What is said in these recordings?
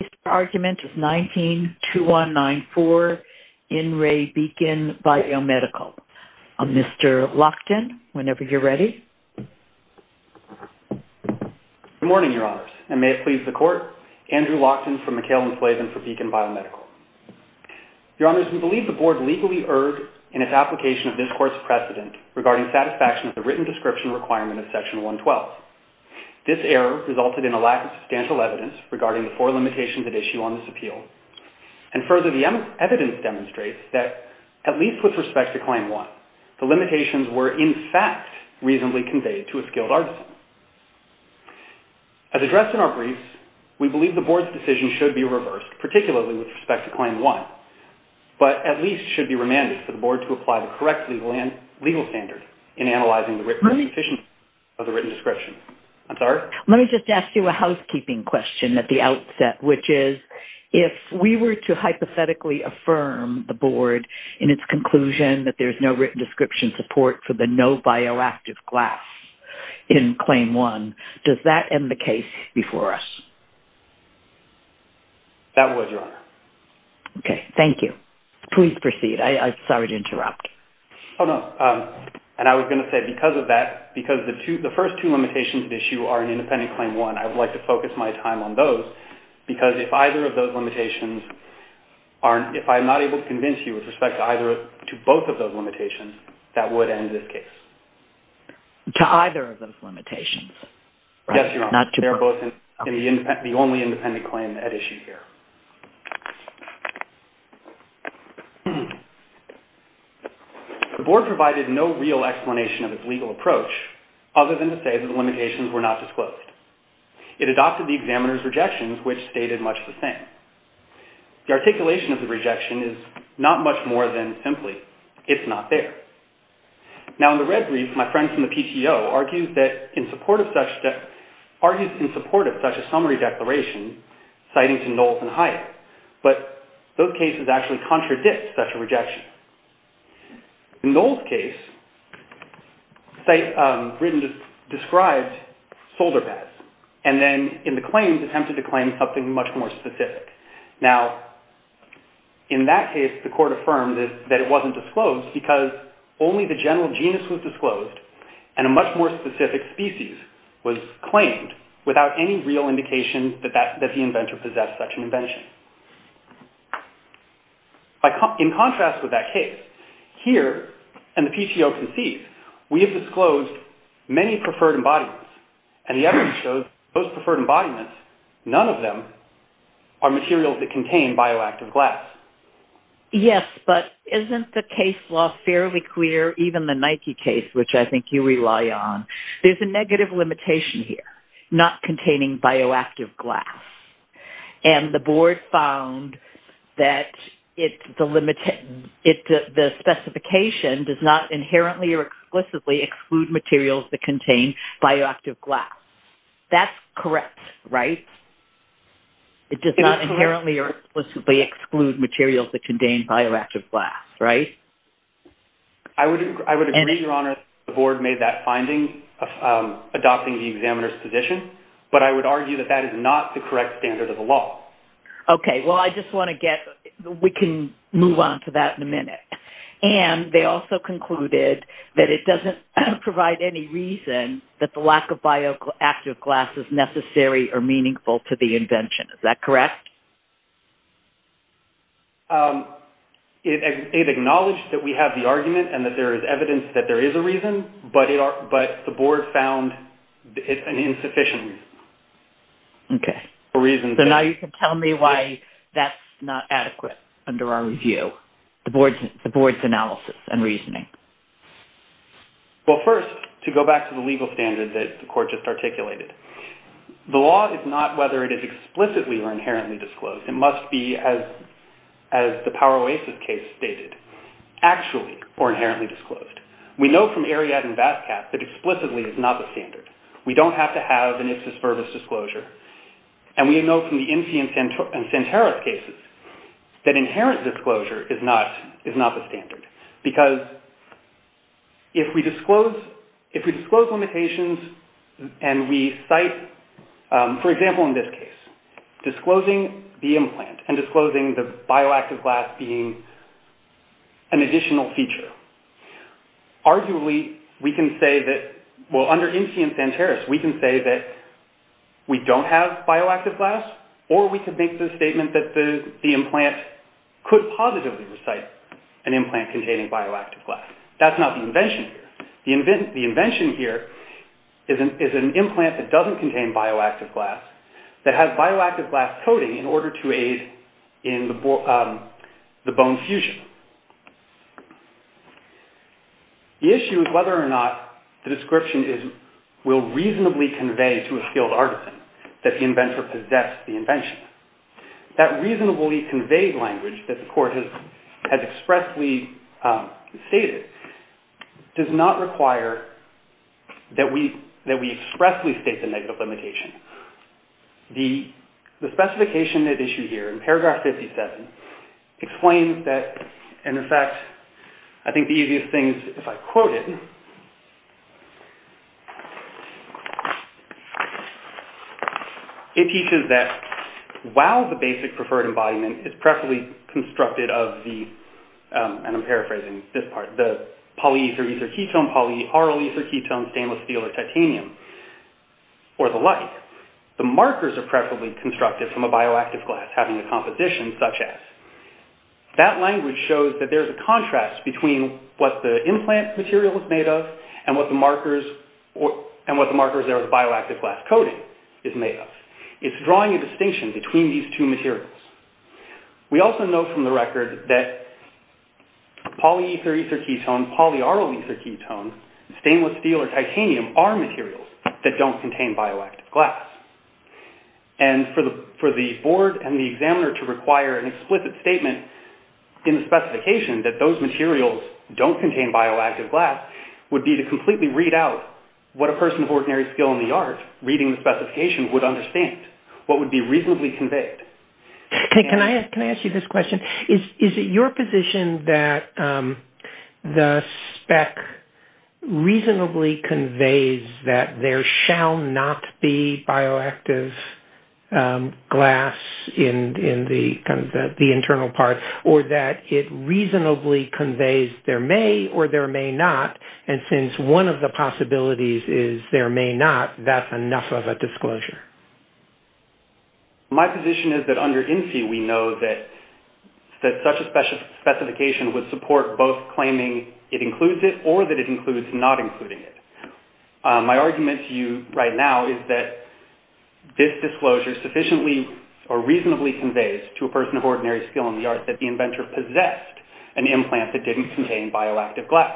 This argument is 19-2194, In Re Beacon Biomedical. Mr. Lockton, whenever you're ready. Good morning, Your Honors, and may it please the Court, Andrew Lockton from McHale & Slaven for Beacon Biomedical. Your Honors, we believe the Board legally erred in its application of this Court's precedent regarding satisfaction of the written description requirement of Section 112. This error resulted in a lack of substantial evidence regarding the four limitations at issue on this appeal. And further, the evidence demonstrates that, at least with respect to Claim 1, the limitations were in fact reasonably conveyed to a skilled artisan. As addressed in our briefs, we believe the Board's decision should be reversed, particularly with respect to Claim 1, but at least should be remanded for the Board to apply the correct legal standard in analyzing the written description. Let me just ask you a housekeeping question at the outset, which is, if we were to hypothetically affirm the Board in its conclusion that there's no written description support for the no bioactive glass in Claim 1, does that end the case before us? That would, Your Honor. Okay, thank you. Please proceed. I'm sorry to interrupt. Oh, no. And I was going to say, because of that, because the first two limitations at issue are in independent Claim 1, I would like to focus my time on those, because if either of those limitations aren't, if I'm not able to convince you with respect to either, to both of those limitations, that would end this case. To either of those limitations? Yes, Your Honor. They're both in the only independent claim at issue here. The Board provided no real explanation of its legal approach, other than to say that the limitations were not disclosed. It adopted the examiner's rejections, which stated much the same. The articulation of the rejection is not much more than simply, it's not there. Now, in the red brief, my friend from the PTO argues in support of such a summary declaration, citing to Knowles and Hyatt, but those cases actually contradict such a rejection. In Knowles' case, the site described solder pads, and then in the claims, attempted to claim something much more specific. Now, in that case, the court affirmed that it wasn't disclosed, because only the general genus was disclosed, and a much more specific species was claimed, without any real indication that the inventor possessed such an invention. In contrast with that case, here, and the PTO concedes, we have disclosed many preferred embodiments, and the evidence shows that those preferred embodiments, none of them are materials that contain bioactive glass. Yes, but isn't the case law fairly clear, even the Nike case, which I think you rely on? There's a negative limitation here, not containing bioactive glass, and the board found that the specification does not inherently or explicitly exclude materials that contain bioactive glass. That's correct, right? It does not inherently or explicitly exclude materials that contain bioactive glass, right? I would agree, Your Honor, that the board made that finding, adopting the examiner's position, but I would argue that that is not the correct standard of the law. Okay, well, I just want to get, we can move on to that in a minute. And they also concluded that it doesn't provide any reason that the lack of bioactive glass is necessary or meaningful to the invention. Is that correct? It acknowledged that we have the argument and that there is evidence that there is a reason, but the board found it an insufficient reason. Okay, so now you can tell me why that's not adequate under our review, the board's analysis and reasoning. Well, first, to go back to the legal standard that the court just articulated, the law is not whether it is explicitly or inherently disclosed. It must be, as the Power Oasis case stated, actually or inherently disclosed. We know from Ariadne and Vasquez that explicitly is not the standard. We don't have to have an if-dispervice disclosure. And we know from the MC and Santeros cases that inherent disclosure is not the standard. Because if we disclose limitations and we cite, for example, in this case, disclosing the implant and disclosing the bioactive glass being an additional feature, arguably we can say that, well, under MC and Santeros, we can say that we don't have bioactive glass or we can make the statement that the implant could positively recite an implant containing bioactive glass. That's not the invention here. The invention here is an implant that doesn't contain bioactive glass that has bioactive glass coating in order to aid in the bone fusion. The issue is whether or not the description will reasonably convey to a skilled artisan that the inventor possesses the invention. That reasonably conveyed language that the court has expressly stated does not require that we expressly state the negative limitation. The specification that is issued here in paragraph 57 explains that, in effect, I think the easiest thing is if I quote it. It teaches that while the basic preferred embodiment is perfectly constructed of the, and I'm paraphrasing this part, the polyether ether ketone, polyaryl ether ketone, stainless steel, or titanium, or the like, the markers are preferably constructed from a bioactive glass having a composition such as. That language shows that there's a contrast between what the implant material is made of and what the markers are of the bioactive glass coating is made of. It's drawing a distinction between these two materials. We also know from the record that polyether ether ketone, polyaryl ether ketone, stainless steel, or titanium are materials that don't contain bioactive glass. For the board and the examiner to require an explicit statement in the specification that those materials don't contain bioactive glass would be to completely read out what a person of ordinary skill in the art reading the specification would understand, what would be reasonably conveyed. Can I ask you this question? Is it your position that the spec reasonably conveys that there shall not be bioactive glass in the internal part, or that it reasonably conveys there may or there may not, and since one of the possibilities is there may not, that's enough of a disclosure? My position is that under INSEE we know that such a specification would support both claiming it includes it or that it includes not including it. My argument to you right now is that this disclosure sufficiently or reasonably conveys to a person of ordinary skill in the art that the inventor possessed an implant that didn't contain bioactive glass.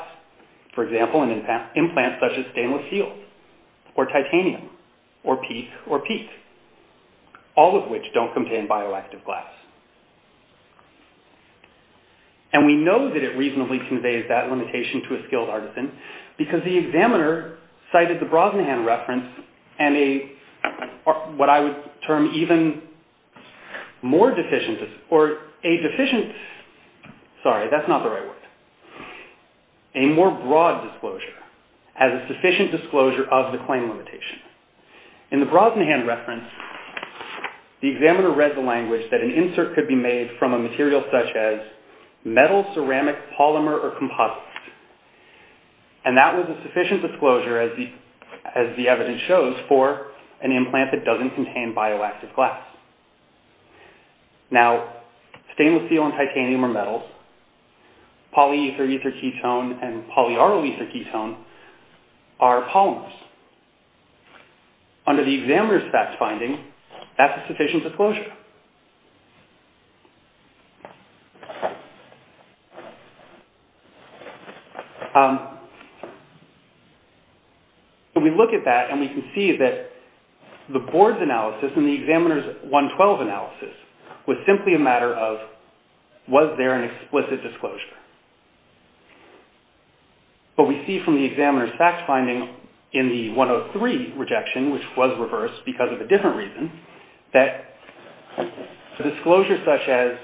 For example, an implant such as stainless steel, or titanium, or peat, or peat, all of which don't contain bioactive glass. And we know that it reasonably conveys that limitation to a skilled artisan because the examiner cited the Brosnahan reference and a, what I would term even more deficient, or a deficient, sorry, that's not the right word, a more broad disclosure as a sufficient disclosure of the claim limitation. In the Brosnahan reference, the examiner read the language that an insert could be made from a material such as metal, ceramic, polymer, or composite. And that was a sufficient disclosure, as the evidence shows, for an implant that doesn't contain bioactive glass. Now, stainless steel and titanium are metals, polyether ether ketone and polyaryl ether ketone are polymers. Under the examiner's fact finding, that's a sufficient disclosure. We look at that and we can see that the board's analysis and the examiner's 112 analysis was simply a matter of, was there an explicit disclosure? But we see from the examiner's fact finding in the 103 rejection, which was reversed because of a different reason, that a disclosure such as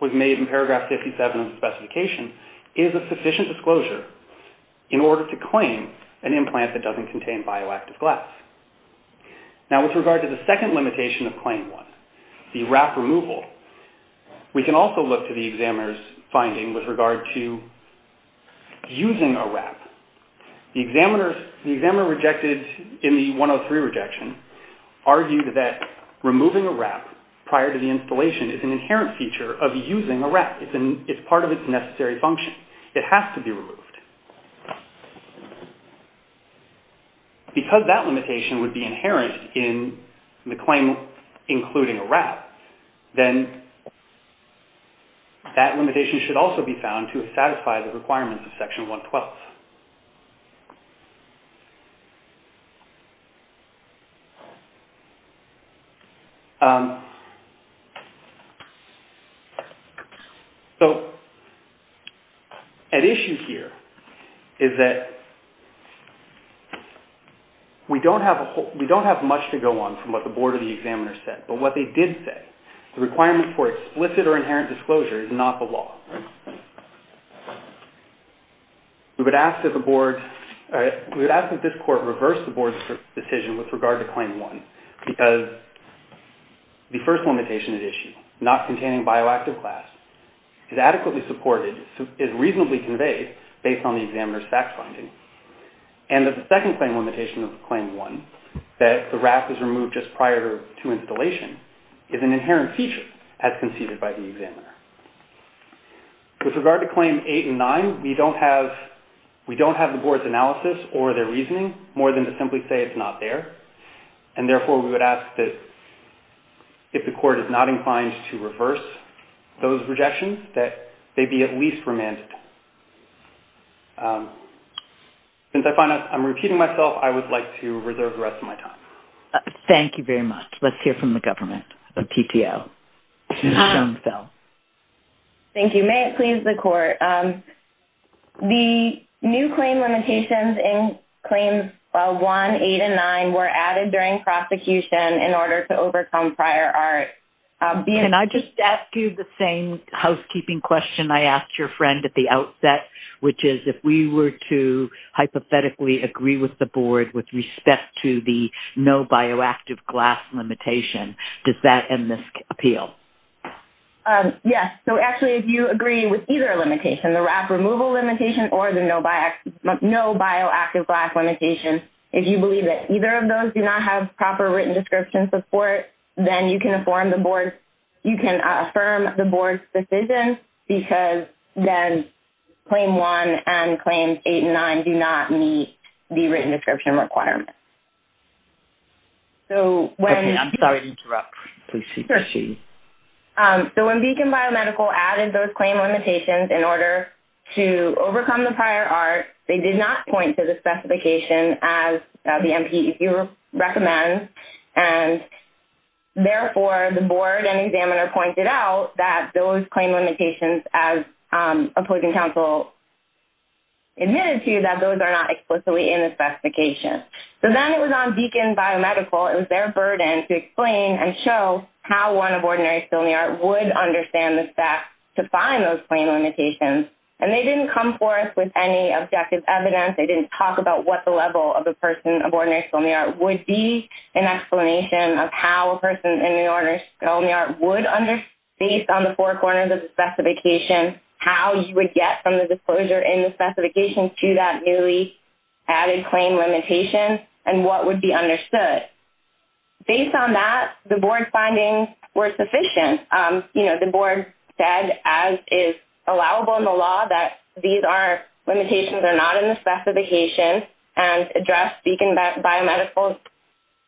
was made in paragraph 57 of the specification is a sufficient disclosure in order to claim an implant that doesn't contain bioactive glass. Now, with regard to the second limitation of claim one, the wrap removal, we can also look to the examiner's finding with regard to using a wrap. The examiner rejected, in the 103 rejection, argued that removing a wrap prior to the installation is an inherent feature of using a wrap. It's part of its necessary function. It has to be removed. Because that limitation would be inherent in the claim including a wrap, then that limitation should also be found to satisfy the requirements of section 112. So, an issue here is that we don't have much to go on from what the board or the examiner said, but what they did say, the requirement for explicit or inherent disclosure is not the law. We would ask that the board, we would ask that this court reverse the board's decision with regard to claim one because the first limitation at issue, not containing bioactive glass, is adequately supported, is reasonably conveyed based on the examiner's fact finding. And the second claim limitation of claim one, that the wrap is removed just prior to installation, is an inherent feature as conceded by the examiner. With regard to claim eight and nine, we don't have the board's analysis or their reasoning, more than to simply say it's not there. And therefore, we would ask that if the court is not inclined to reverse those rejections, that they be at least remanded. Since I find I'm repeating myself, I would like to reserve the rest of my time. Thank you very much. Let's hear from the government, the PTO. Ms. Schoenfeld. Thank you. May it please the court. The new claim limitations in claims one, eight, and nine were added during prosecution in order to overcome prior art. Can I just ask you the same housekeeping question I asked your friend at the outset, which is if we were to hypothetically agree with the board with respect to the no bioactive glass limitation, does that in this appeal? Yes. So, actually, if you agree with either limitation, the wrap removal limitation or the no bioactive glass limitation, if you believe that either of those do not have proper written description support, then you can affirm the board's decision because then claim one and claims eight and nine do not meet the written description requirement. Okay. I'm sorry to interrupt. Please continue. So, when Beacon Biomedical added those claim limitations in order to overcome the prior art, they did not point to the specification as the MPEQ recommends. And, therefore, the board and examiner pointed out that those claim limitations, as opposing counsel admitted to, that those are not explicitly in the specification. So, then it was on Beacon Biomedical, it was their burden to explain and show how one of ordinary skill in the art would understand the fact to find those claim limitations. And they didn't come forth with any objective evidence. They didn't talk about what the level of a person of ordinary skill in the art would be. They didn't provide an explanation of how a person in the ordinary skill in the art would, based on the four corners of the specification, how you would get from the disclosure in the specification to that newly added claim limitation and what would be understood. But, based on that, the board's findings were sufficient. You know, the board said, as is allowable in the law, that these limitations are not in the specification and addressed Beacon Biomedical's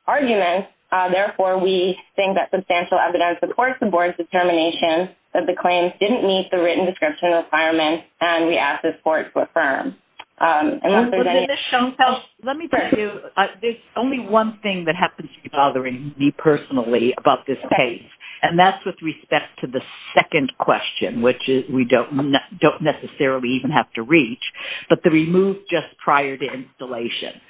argument. Therefore, we think that substantial evidence supports the board's determination that the claims didn't meet the written description requirements and we ask this court to affirm. Let me tell you, there's only one thing that happens to be bothering me personally about this case, and that's with respect to the second question, which we don't necessarily even have to reach, but the remove just prior to installation.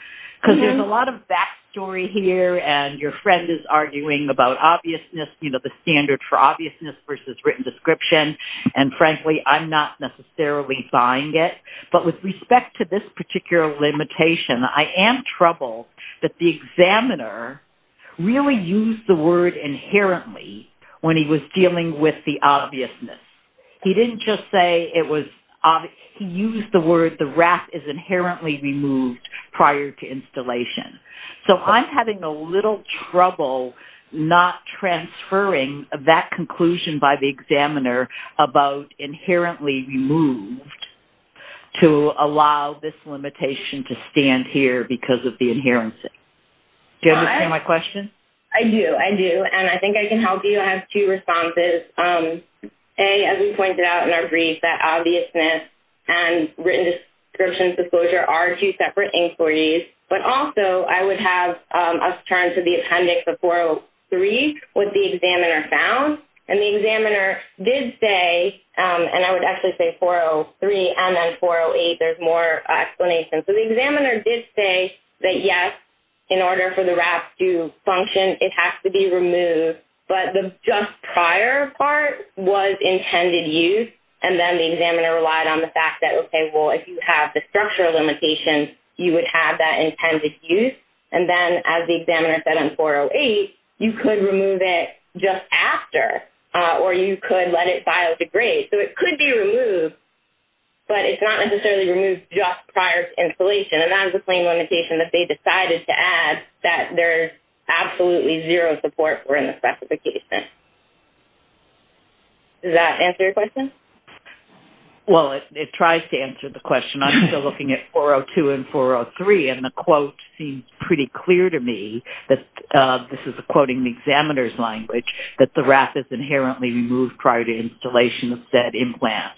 Because there's a lot of back story here and your friend is arguing about obviousness, you know, the standard for obviousness versus written description, and frankly, I'm not necessarily buying it. But with respect to this particular limitation, I am troubled that the examiner really used the word inherently when he was dealing with the obviousness. He didn't just say it was obvious. He used the word the wrap is inherently removed prior to installation. So, I'm having a little trouble not transferring that conclusion by the examiner about inherently removed to allow this limitation to stand here because of the inherency. Do you understand my question? I do, I do, and I think I can help you. I have two responses. A, as we pointed out in our brief, that obviousness and written description disclosure are two separate inquiries, but also I would have us turn to the appendix of 403 with the examiner found. And the examiner did say, and I would actually say 403 and then 408, there's more explanation. So, the examiner did say that, yes, in order for the wrap to function, it has to be removed, but the just prior part was intended use. And then the examiner relied on the fact that, okay, well, if you have the structural limitation, you would have that intended use. And then, as the examiner said on 408, you could remove it just after or you could let it biodegrade. So, it could be removed, but it's not necessarily removed just prior to installation. And that is a plain limitation that they decided to add that there's absolutely zero support for in the specification. Does that answer your question? Well, it tries to answer the question. I'm still looking at 402 and 403, and the quote seems pretty clear to me. This is quoting the examiner's language, that the wrap is inherently removed prior to installation of said implant.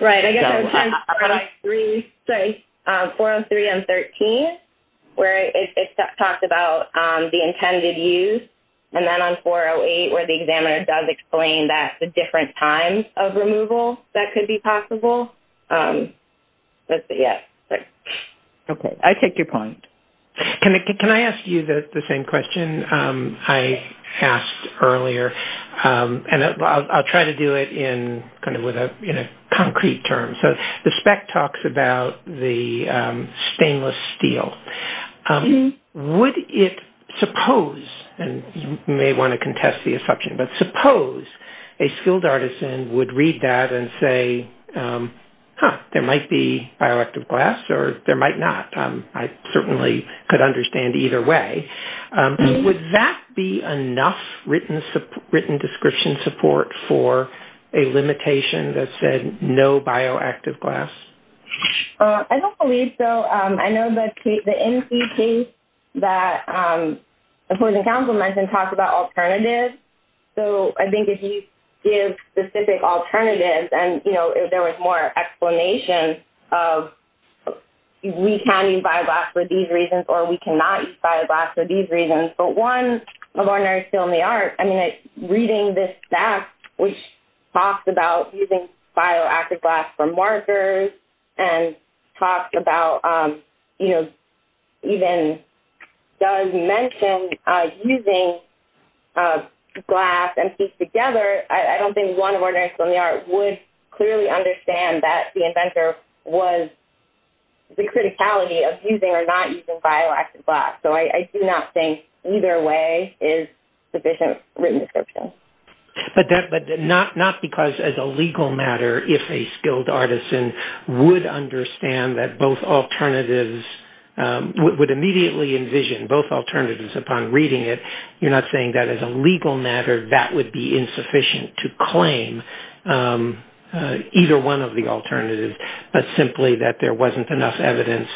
Right. I guess I was trying to find 403. Sorry. 403 on 13, where it talks about the intended use. And then on 408, where the examiner does explain that the different times of removal that could be possible. Okay. I take your point. Can I ask you the same question I asked earlier? And I'll try to do it in a concrete term. So, the spec talks about the stainless steel. Would it suppose, and you may want to contest the assumption, but suppose a skilled artisan would read that and say, huh, there might be bioactive glass or there might not. I certainly could understand either way. Would that be enough written description support for a limitation that said no bioactive glass? I don't believe so. I know that the NC case that opposing counsel mentioned talked about alternatives. So, I think if you give specific alternatives and, you know, there was more explanation of we can use bioglass for these reasons or we cannot use bioglass for these reasons. But one of ordinary skilled in the art, I mean, reading this stack, which talks about using bioactive glass for markers and talks about, you know, even does mention using glass and piece together. I don't think one of ordinary skilled in the art would clearly understand that the inventor was the criticality of using or not using bioactive glass. So, I do not think either way is sufficient written description. But not because as a legal matter, if a skilled artisan would understand that both alternatives, would immediately envision both alternatives upon reading it, you're not saying that as a legal matter that would be insufficient to claim either one of the alternatives, but simply that there wasn't enough evidence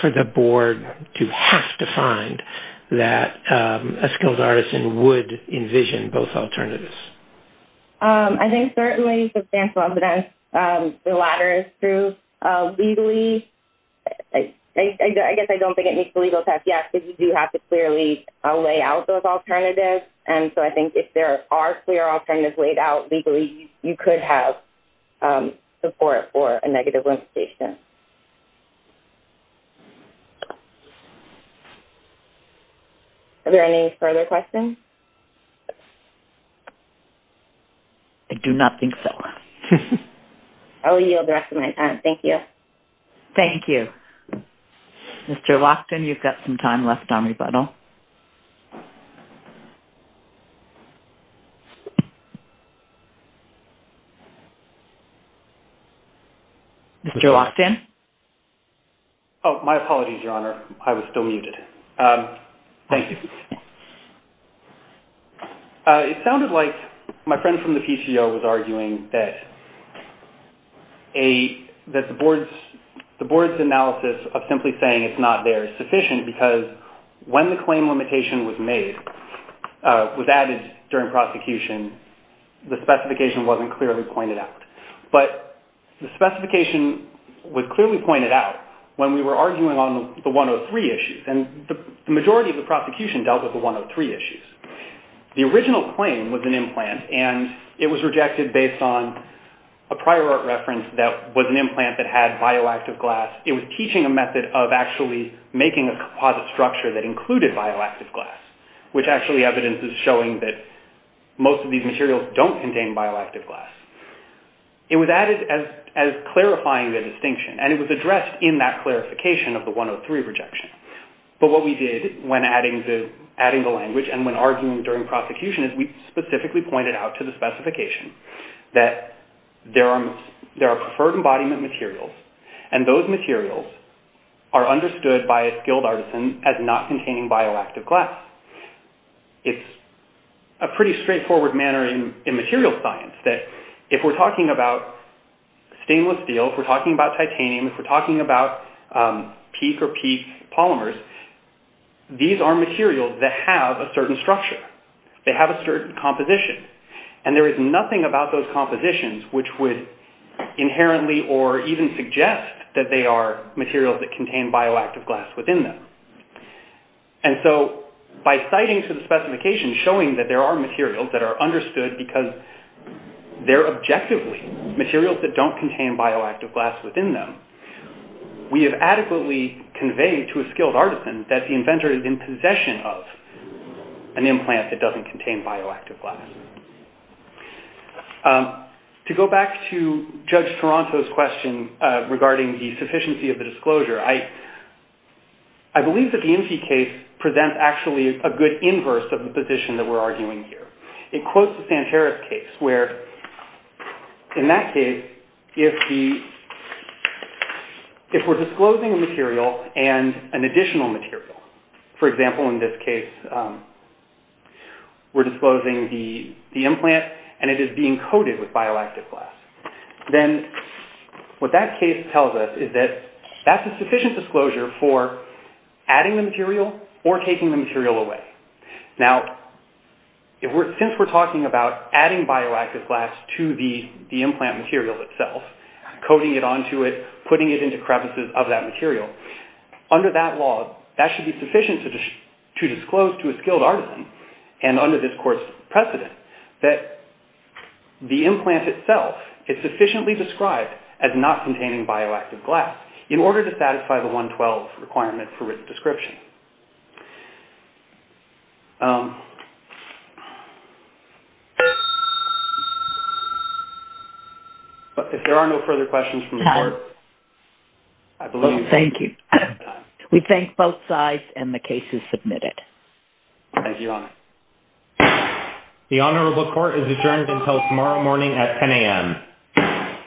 for the board to have to find that a skilled artisan would envision both alternatives. I think certainly substantial evidence, the latter is true. Legally, I guess I don't think it meets the legal test yet because you do have to clearly lay out those alternatives. And so, I think if there are clear alternatives laid out legally, you could have support for a negative limitation. Are there any further questions? I do not think so. I will yield the rest of my time. Thank you. Thank you. Mr. Lockton, you've got some time left on rebuttal. Mr. Lockton? Oh, my apologies, Your Honor. I was still muted. Thank you. It sounded like my friend from the PCO was arguing that the board's analysis of simply saying it's not there is sufficient because when the claim limitation was made, was added during prosecution, the specification wasn't clearly pointed out. But the specification was clearly pointed out when we were arguing on the 103 issues. And the majority of the prosecution dealt with the 103 issues. The original claim was an implant, and it was rejected based on a prior art reference that was an implant that had bioactive glass. It was teaching a method of actually making a composite structure that included bioactive glass, which actually evidence is showing that most of these materials don't contain bioactive glass. It was added as clarifying the distinction, and it was addressed in that clarification of the 103 rejection. But what we did when adding the language and when arguing during prosecution is we specifically pointed out to the specification that there are preferred embodiment materials, and those materials are understood by a skilled artisan as not containing bioactive glass. It's a pretty straightforward manner in material science that if we're talking about stainless steel, if we're talking about titanium, if we're talking about peak or peak polymers, these are materials that have a certain structure. They have a certain composition, and there is nothing about those compositions which would inherently or even suggest that they are materials that contain bioactive glass within them. And so by citing to the specification showing that there are materials that are understood because they're objectively materials that don't contain bioactive glass within them, we have adequately conveyed to a skilled artisan that the inventor is in possession of an implant that doesn't contain bioactive glass. To go back to Judge Toronto's question regarding the sufficiency of the disclosure, I believe that the NC case presents actually a good inverse of the position that we're arguing here. It quotes the Sanchez case where in that case if we're disclosing a material and an additional material, for example in this case we're disclosing the implant and it is being coated with bioactive glass, then what that case tells us is that that's a sufficient disclosure for adding the material or taking the material away. Now, since we're talking about adding bioactive glass to the implant material itself, coating it onto it, putting it into crevices of that material, under that law that should be sufficient to disclose to a skilled artisan and under this court's precedent that the implant itself is sufficiently described as not containing bioactive glass in order to satisfy the 112 requirement for written description. Thank you. If there are no further questions from the court, I believe we're out of time. Thank you. We thank both sides and the case is submitted. Thank you, Your Honor. The Honorable Court is adjourned until tomorrow morning at 10 a.m.